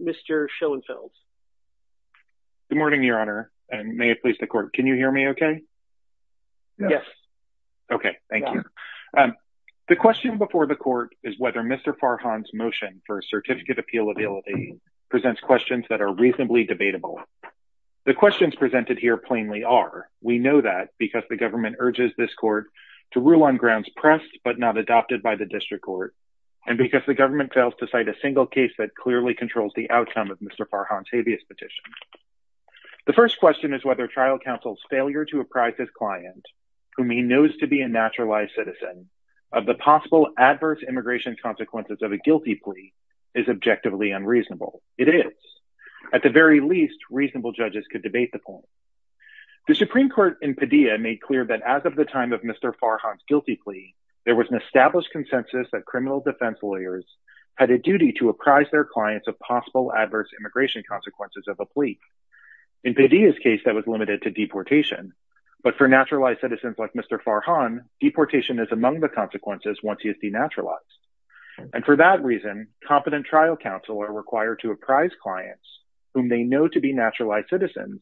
Mr. Schoenfeld. Good morning, Your Honor, and may it please the Court, can you hear me okay? Yes. Okay, thank you. The question before the Court is whether Mr. Farhan's motion for certificate appealability presents questions that are reasonably debatable. The questions presented here plainly are. We know that because the government urges this Court to rule on grounds pressed but not adopted by the District Court, and because the government fails to cite a single case that clearly controls the outcome of Mr. Farhan's habeas petition. The first question is whether trial counsel's failure to apprise his client, whom he knows to be a naturalized citizen, of the possible adverse immigration consequences of a guilty plea is objectively unreasonable. It is. At the very least, reasonable judges could debate the point. The Supreme Court in Padilla made clear that as of the time of Mr. Farhan's guilty plea, there was an established consensus that criminal defense lawyers had a duty to apprise their clients of possible adverse immigration consequences of a plea. In Padilla's case, that was limited to deportation. But for naturalized citizens like Mr. Farhan, deportation is among the consequences once he is denaturalized. And for that reason, competent trial counsel are required to apprise clients whom they know to be naturalized citizens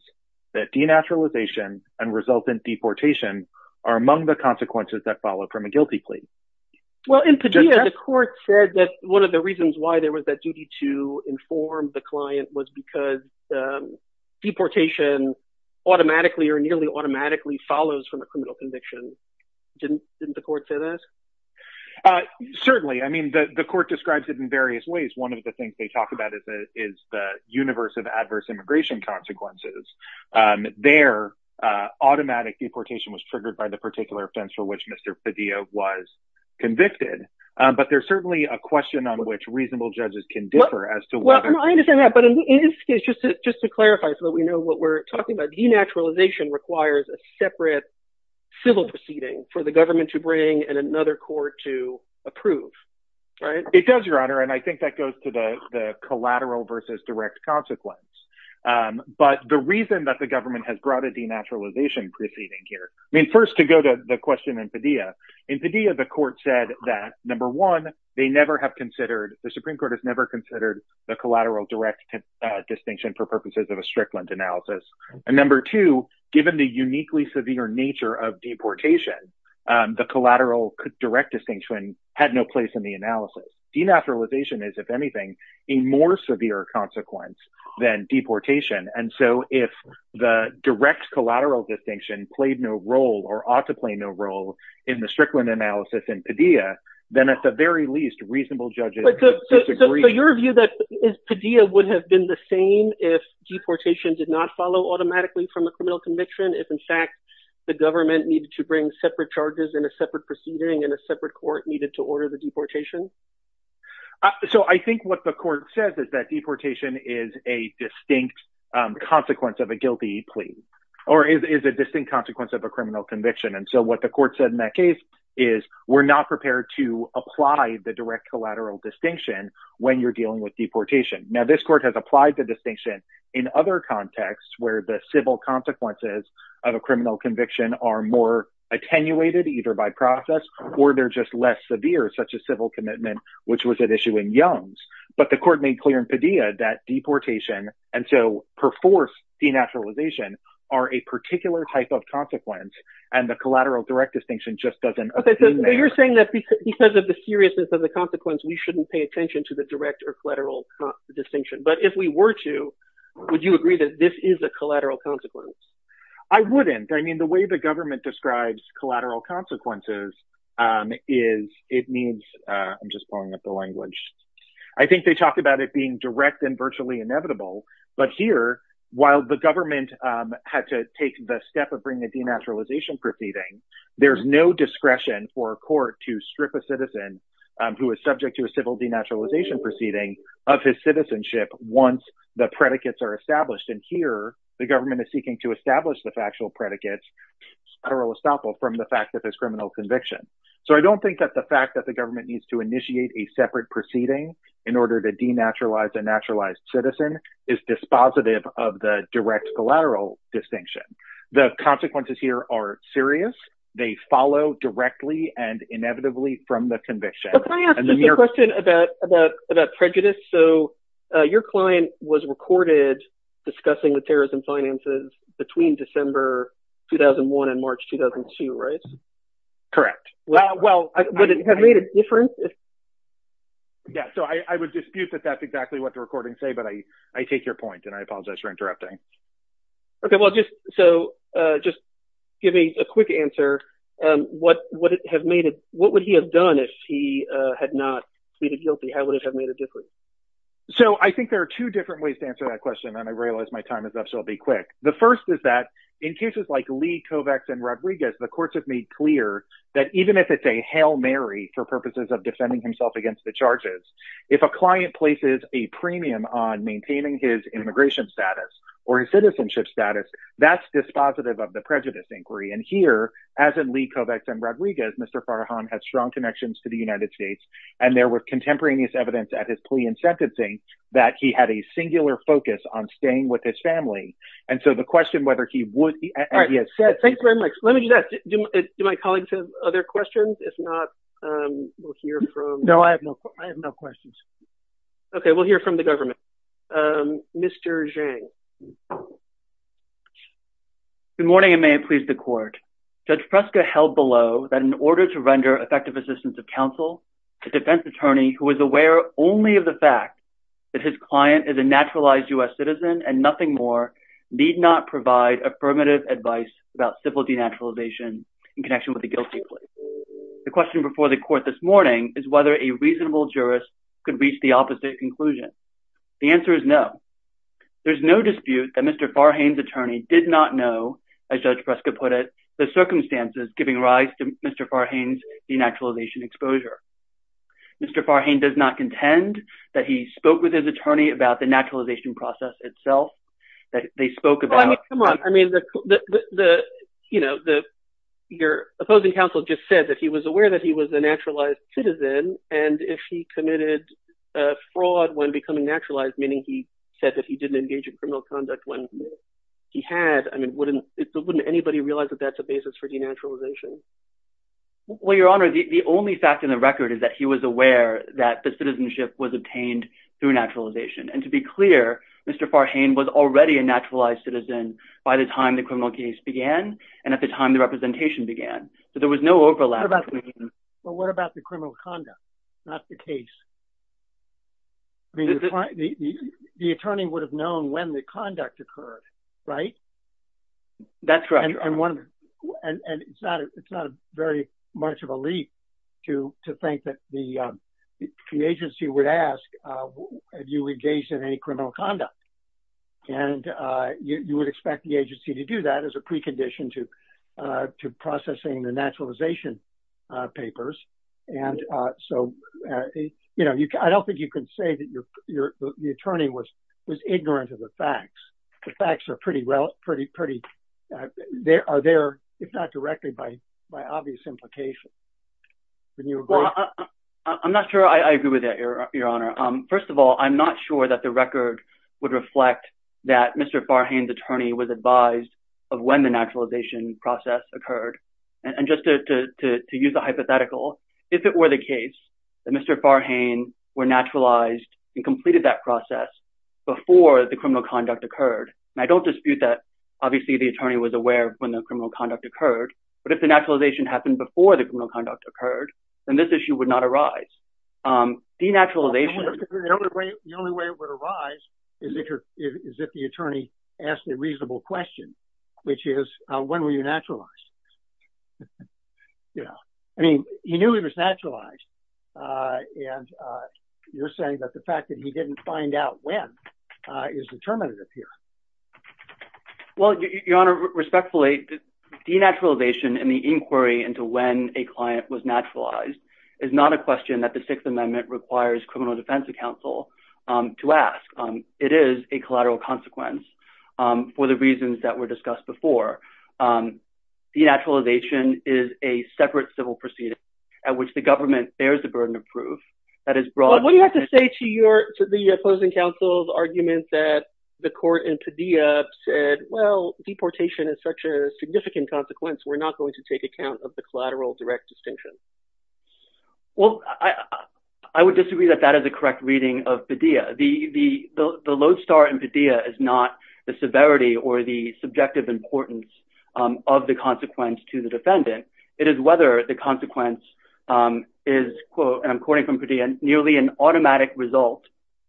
that denaturalization and resultant deportation are among the consequences that follow from a guilty plea. Well, in Padilla, the court said that one of the reasons why there was that duty to inform the client was because deportation automatically or nearly automatically follows from a criminal conviction. Didn't the court say that? Certainly. I mean, the court describes it in various ways. One of the things they talk about is the universe of adverse immigration consequences. Their automatic deportation was triggered by the particular offense for which Mr. Padilla was convicted. But there's certainly a question on which reasonable judges can differ as to whether I understand that. But in this case, just to clarify so that we know what we're talking about, denaturalization requires a separate civil proceeding for the government to bring and another court to approve. It does, Your Honor. And I think that goes to the collateral versus direct consequence. But the reason that the government has brought a denaturalization proceeding here, I mean, first to go to the question in Padilla, in Padilla, the court said that, number one, they never have considered the Supreme Court has never considered the collateral direct distinction for purposes of a strict analysis. And number two, given the uniquely severe nature of deportation, the collateral direct distinction had no place in the analysis. Denaturalization is, if anything, a more severe consequence than deportation. And so if the direct collateral distinction played no role or ought to play no role in the Strickland analysis in Padilla, then at the very least, reasonable judges disagree. So your view that Padilla would have been the same if deportation did not follow automatically from the criminal conviction, if in fact the government needed to bring separate charges and a separate proceeding and a separate court needed to order the deportation? So I think what the court says is that deportation is a distinct consequence of a guilty plea or is a distinct consequence of a criminal conviction. And so what the court said in that case is we're not prepared to apply the direct collateral distinction when you're dealing with deportation. Now this court has applied the distinction in other contexts where the civil consequences of a criminal conviction are more attenuated either by process or they're just less severe, such as civil commitment, which was at issue in Young's. But the court made clear in Padilla that deportation, and so perforce denaturalization, are a particular type of consequence and the collateral direct distinction just doesn't appear there. So you're saying that because of the seriousness of the consequence, we shouldn't pay attention to the direct or collateral distinction. But if we were to, would you agree that this is a collateral consequence? I wouldn't. I mean, the way the government describes collateral consequences is it means... I'm just pulling up the language. I think they talked about it being direct and virtually inevitable. But here, while the government had to take the step of bringing a denaturalization proceeding, there's no discretion for a court to strip a citizen who is subject to a civil denaturalization proceeding of his citizenship once the predicates are established. And here, the government is seeking to establish the factual predicates, federal estoppel, from the fact that there's criminal conviction. So I don't think that the fact that the government needs to initiate a separate proceeding in order to denaturalize a naturalized citizen is dispositive of the direct collateral distinction. The consequences here are serious. They follow directly and inevitably from the conviction. Can I ask you a question about prejudice? So your client was recorded discussing the terrorism finances between December 2001 and March 2002, right? Correct. Well, would it have made a difference? Yeah, so I would dispute that that's exactly what the recordings say, but I take your point and I apologize for interrupting. OK, well, just so just give me a quick answer. What would he have done if he had not pleaded guilty? How would it have made a difference? So I think there are two different ways to answer that question, and I realize my time is up, so I'll be quick. The first is that in cases like Lee, Kovacs, and Rodriguez, the courts have made clear that even if it's a Hail Mary for purposes of defending himself against the charges, if a client places a premium on maintaining his immigration status or his citizenship status, that's dispositive of the prejudice inquiry. And here, as in Lee, Kovacs, and Rodriguez, Mr. Farhan has strong connections to the United States. And there were contemporaneous evidence at his plea and sentencing that he had a singular focus on staying with his family. And so the question whether he would. Thanks very much. Let me do that. Do my colleagues have other questions? If not, we'll hear from. No, I have no questions. OK, we'll hear from the government. Mr. Zhang. Good morning, and may it please the court. Judge Fresca held below that in order to render effective assistance of counsel, a defense attorney who is aware only of the fact that his client is a naturalized US citizen and nothing more, need not provide affirmative advice about civil denaturalization in connection with a guilty plea. The question before the court this morning is whether a reasonable jurist could reach the opposite conclusion. The answer is no. There's no dispute that Mr. Farhan's attorney did not know, as Judge Fresca put it, the circumstances giving rise to Mr. Farhan's denaturalization exposure. Mr. Farhan does not contend that he spoke with his attorney about the naturalization process itself, that they spoke about. Come on. I mean, the you know, the your opposing counsel just said that he was aware that he was a naturalized citizen and if he committed fraud when becoming naturalized, meaning he said that he didn't engage in criminal conduct when he had, I mean, wouldn't anybody realize that that's a basis for denaturalization? Well, your honor, the only fact in the record is that he was aware that the citizenship was obtained through naturalization. And to be clear, Mr. Farhan was already a naturalized citizen by the time the criminal case began and at the time the representation began. So there was no overlap. But what about the criminal conduct, not the case? I mean, the attorney would have known when the conduct occurred, right? That's right. And it's not it's not very much of a leap to think that the agency would ask, have you engaged in any criminal conduct? And you would expect the agency to do that as a precondition to to processing the naturalization papers. And so, you know, I don't think you can say that the attorney was was ignorant of the facts. The facts are pretty well, pretty, pretty there are there, if not directly by by obvious implications. I'm not sure I agree with that, your honor. First of all, I'm not sure that the record would reflect that Mr. Farhan's attorney was advised of when the naturalization process occurred. And just to use a hypothetical, if it were the case that Mr. Farhan were naturalized and completed that process before the criminal conduct occurred, I don't dispute that. Obviously, the attorney was aware when the criminal conduct occurred. But if the naturalization happened before the criminal conduct occurred, then this issue would not arise. The naturalization, the only way it would arise is if the attorney asked a reasonable question, which is when were you naturalized? Yeah, I mean, he knew he was naturalized. And you're saying that the fact that he didn't find out when is determinative here. Well, your honor, respectfully, denaturalization and the inquiry into when a client was naturalized is not a question that the Sixth Amendment requires criminal defense counsel to ask. It is a collateral consequence for the reasons that were discussed before. Denaturalization is a separate civil proceeding at which the government bears the burden of proof. That is broad. What do you have to say to the opposing counsel's argument that the court in Padilla said, well, deportation is such a significant consequence, we're not going to take account of the collateral direct distinction? Well, I would disagree that that is a correct reading of Padilla. The lodestar in Padilla is not the severity or the subjective importance of the consequence to the defendant. It is whether the consequence is, and I'm quoting from Padilla, nearly an automatic result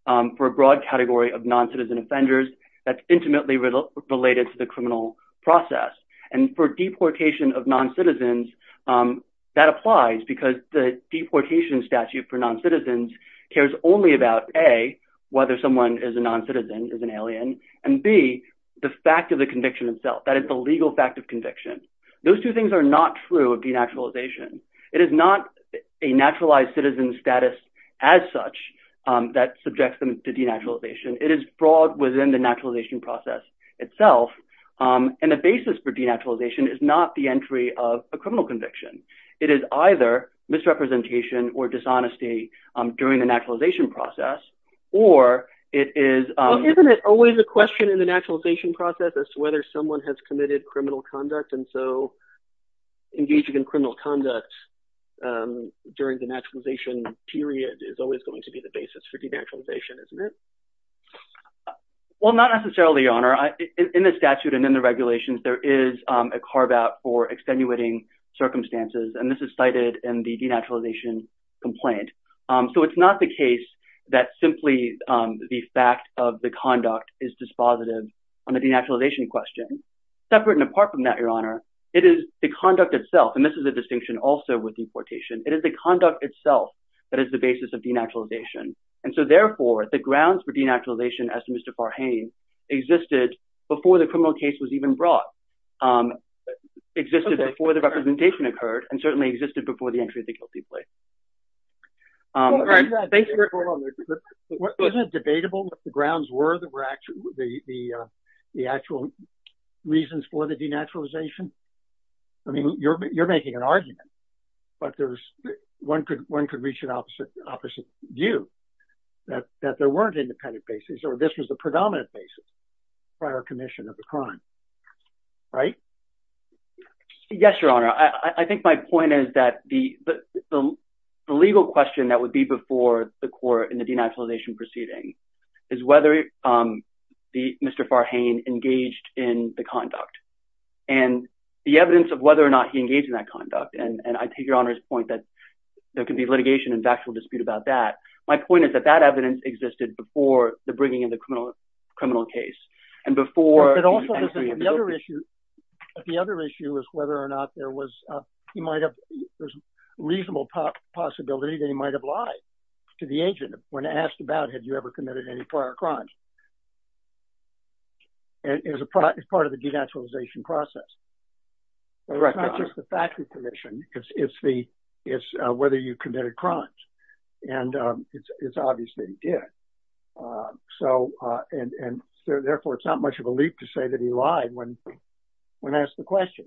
for a broad category of noncitizen offenders that's intimately related to the criminal process. And for deportation of noncitizens, that applies because the deportation statute for noncitizens cares only about, A, whether someone is a noncitizen, is an alien, and B, the fact of the conviction itself. That is the legal fact of conviction. Those two things are not true of denaturalization. It is not a naturalized citizen status as such that subjects them to denaturalization. It is broad within the naturalization process itself. And the basis for denaturalization is not the entry of a criminal conviction. It is either misrepresentation or dishonesty during the naturalization process, or it is... Isn't it always a question in the naturalization process as to whether someone has committed criminal conduct? And so engaging in criminal conduct during the naturalization period is always going to be the basis for denaturalization, isn't it? Well, not necessarily, Your Honor. In the statute and in the regulations, there is a carve-out for extenuating circumstances, and this is cited in the denaturalization complaint. So it's not the case that simply the fact of the conduct is dispositive on the denaturalization question. Separate and apart from that, Your Honor, it is the conduct itself, and this is a distinction also with deportation, it is the conduct itself that is the basis of denaturalization. And so, therefore, the grounds for denaturalization, as to Mr. Farhane, existed before the criminal case was even brought, existed before the representation occurred, and certainly existed before the entry of the guilty plea. Isn't it debatable what the grounds were, the actual reasons for the denaturalization? I mean, you're making an argument, but one could reach an opposite view. That there weren't independent basis, or this was the predominant basis, prior commission of the crime, right? Yes, Your Honor. I think my point is that the legal question that would be before the court in the denaturalization proceeding is whether Mr. Farhane engaged in the conduct. And the evidence of whether or not he engaged in that conduct, and I take Your Honor's point that there could be litigation and factual dispute about that. My point is that that evidence existed before the bringing of the criminal case. And before the entry of the guilty plea. The other issue is whether or not there was a reasonable possibility that he might have lied to the agent when asked about, had you ever committed any prior crimes? And it's part of the denaturalization process. Correct, Your Honor. It's not just the factory commission, it's whether you committed crimes. And it's obvious that he did. So, and therefore, it's not much of a leap to say that he lied when asked the question.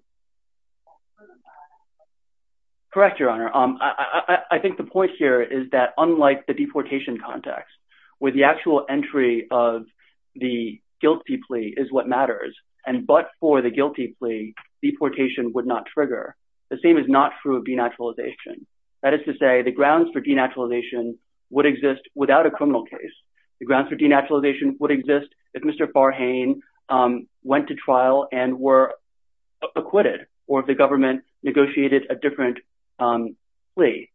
Correct, Your Honor. I think the point here is that unlike the deportation context, where the actual entry of the guilty plea is what matters, and but for the guilty plea, deportation would not trigger, the same is not true of denaturalization. That is to say the grounds for denaturalization would exist without a criminal case. The grounds for denaturalization would exist if Mr. Farhane went to trial and were acquitted, or if the government negotiated a different plea.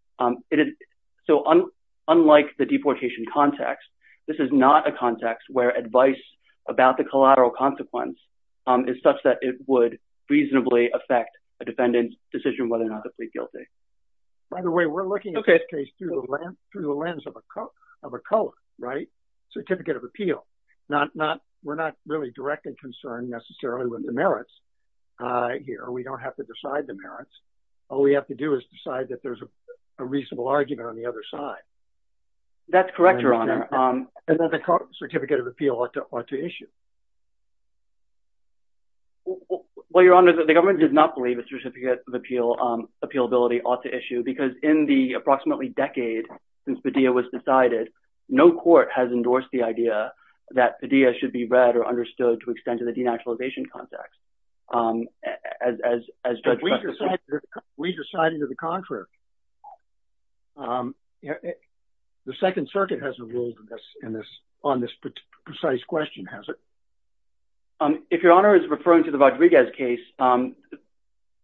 So, unlike the deportation context, this is not a context where advice about the collateral consequence is such that it would reasonably affect a defendant's decision whether or not to plead guilty. By the way, we're looking at this case through the lens of a color, right? Certificate of Appeal. We're not really directly concerned necessarily with the merits here. We don't have to decide the merits. All we have to do is decide that there's a reasonable argument on the other side. That's correct, Your Honor. And that the Certificate of Appeal ought to issue. Well, Your Honor, the government does not believe a Certificate of Appeal, appealability ought to issue because in the approximately decade since Padilla was decided, no court has endorsed the idea that Padilla should be read or understood to extend to the denaturalization context. We decided to the contrary. The Second Circuit hasn't ruled on this precise question, has it? If Your Honor is referring to the Rodriguez case,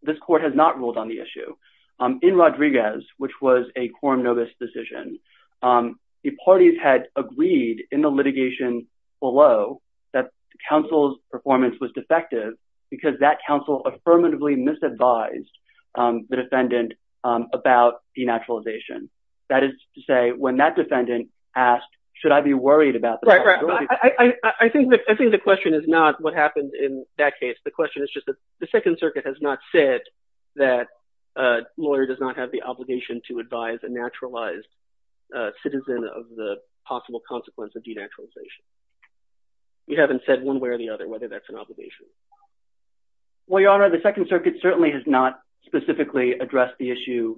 this court has not ruled on the issue. In Rodriguez, which was a quorum novus decision, the parties had agreed in the litigation below that counsel's performance was defective because that counsel affirmatively misadvised the defendant about denaturalization. That is to say, when that defendant asked, should I be worried about the possibility of denaturalization. I think the question is not what happened in that case. The question is just that the Second Circuit has not said that a lawyer does not have the obligation to advise a naturalized citizen of the possible consequence of denaturalization. You haven't said one way or the other whether that's an obligation. Well, Your Honor, the Second Circuit certainly has not specifically addressed the issue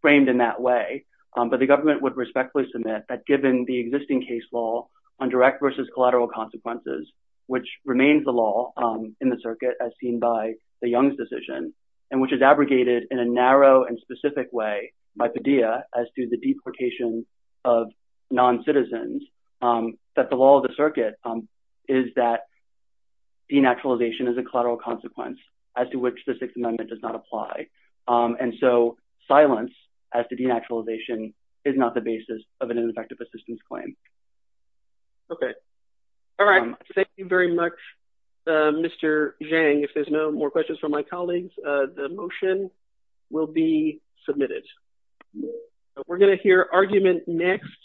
framed in that way. But the government would respectfully submit that given the existing case law on direct versus collateral consequences, which remains the law in the circuit as seen by the Young's decision, and which is abrogated in a narrow and specific way by Padilla as to the deportation of non-citizens, that the law of the circuit is that denaturalization is a collateral consequence as to which the Sixth Amendment does not apply. And so silence as to denaturalization is not the basis of an ineffective assistance claim. Okay. All right. Thank you very much, Mr. Zhang. If there's no more questions from my colleagues, the motion will be submitted. We're going to hear argument next.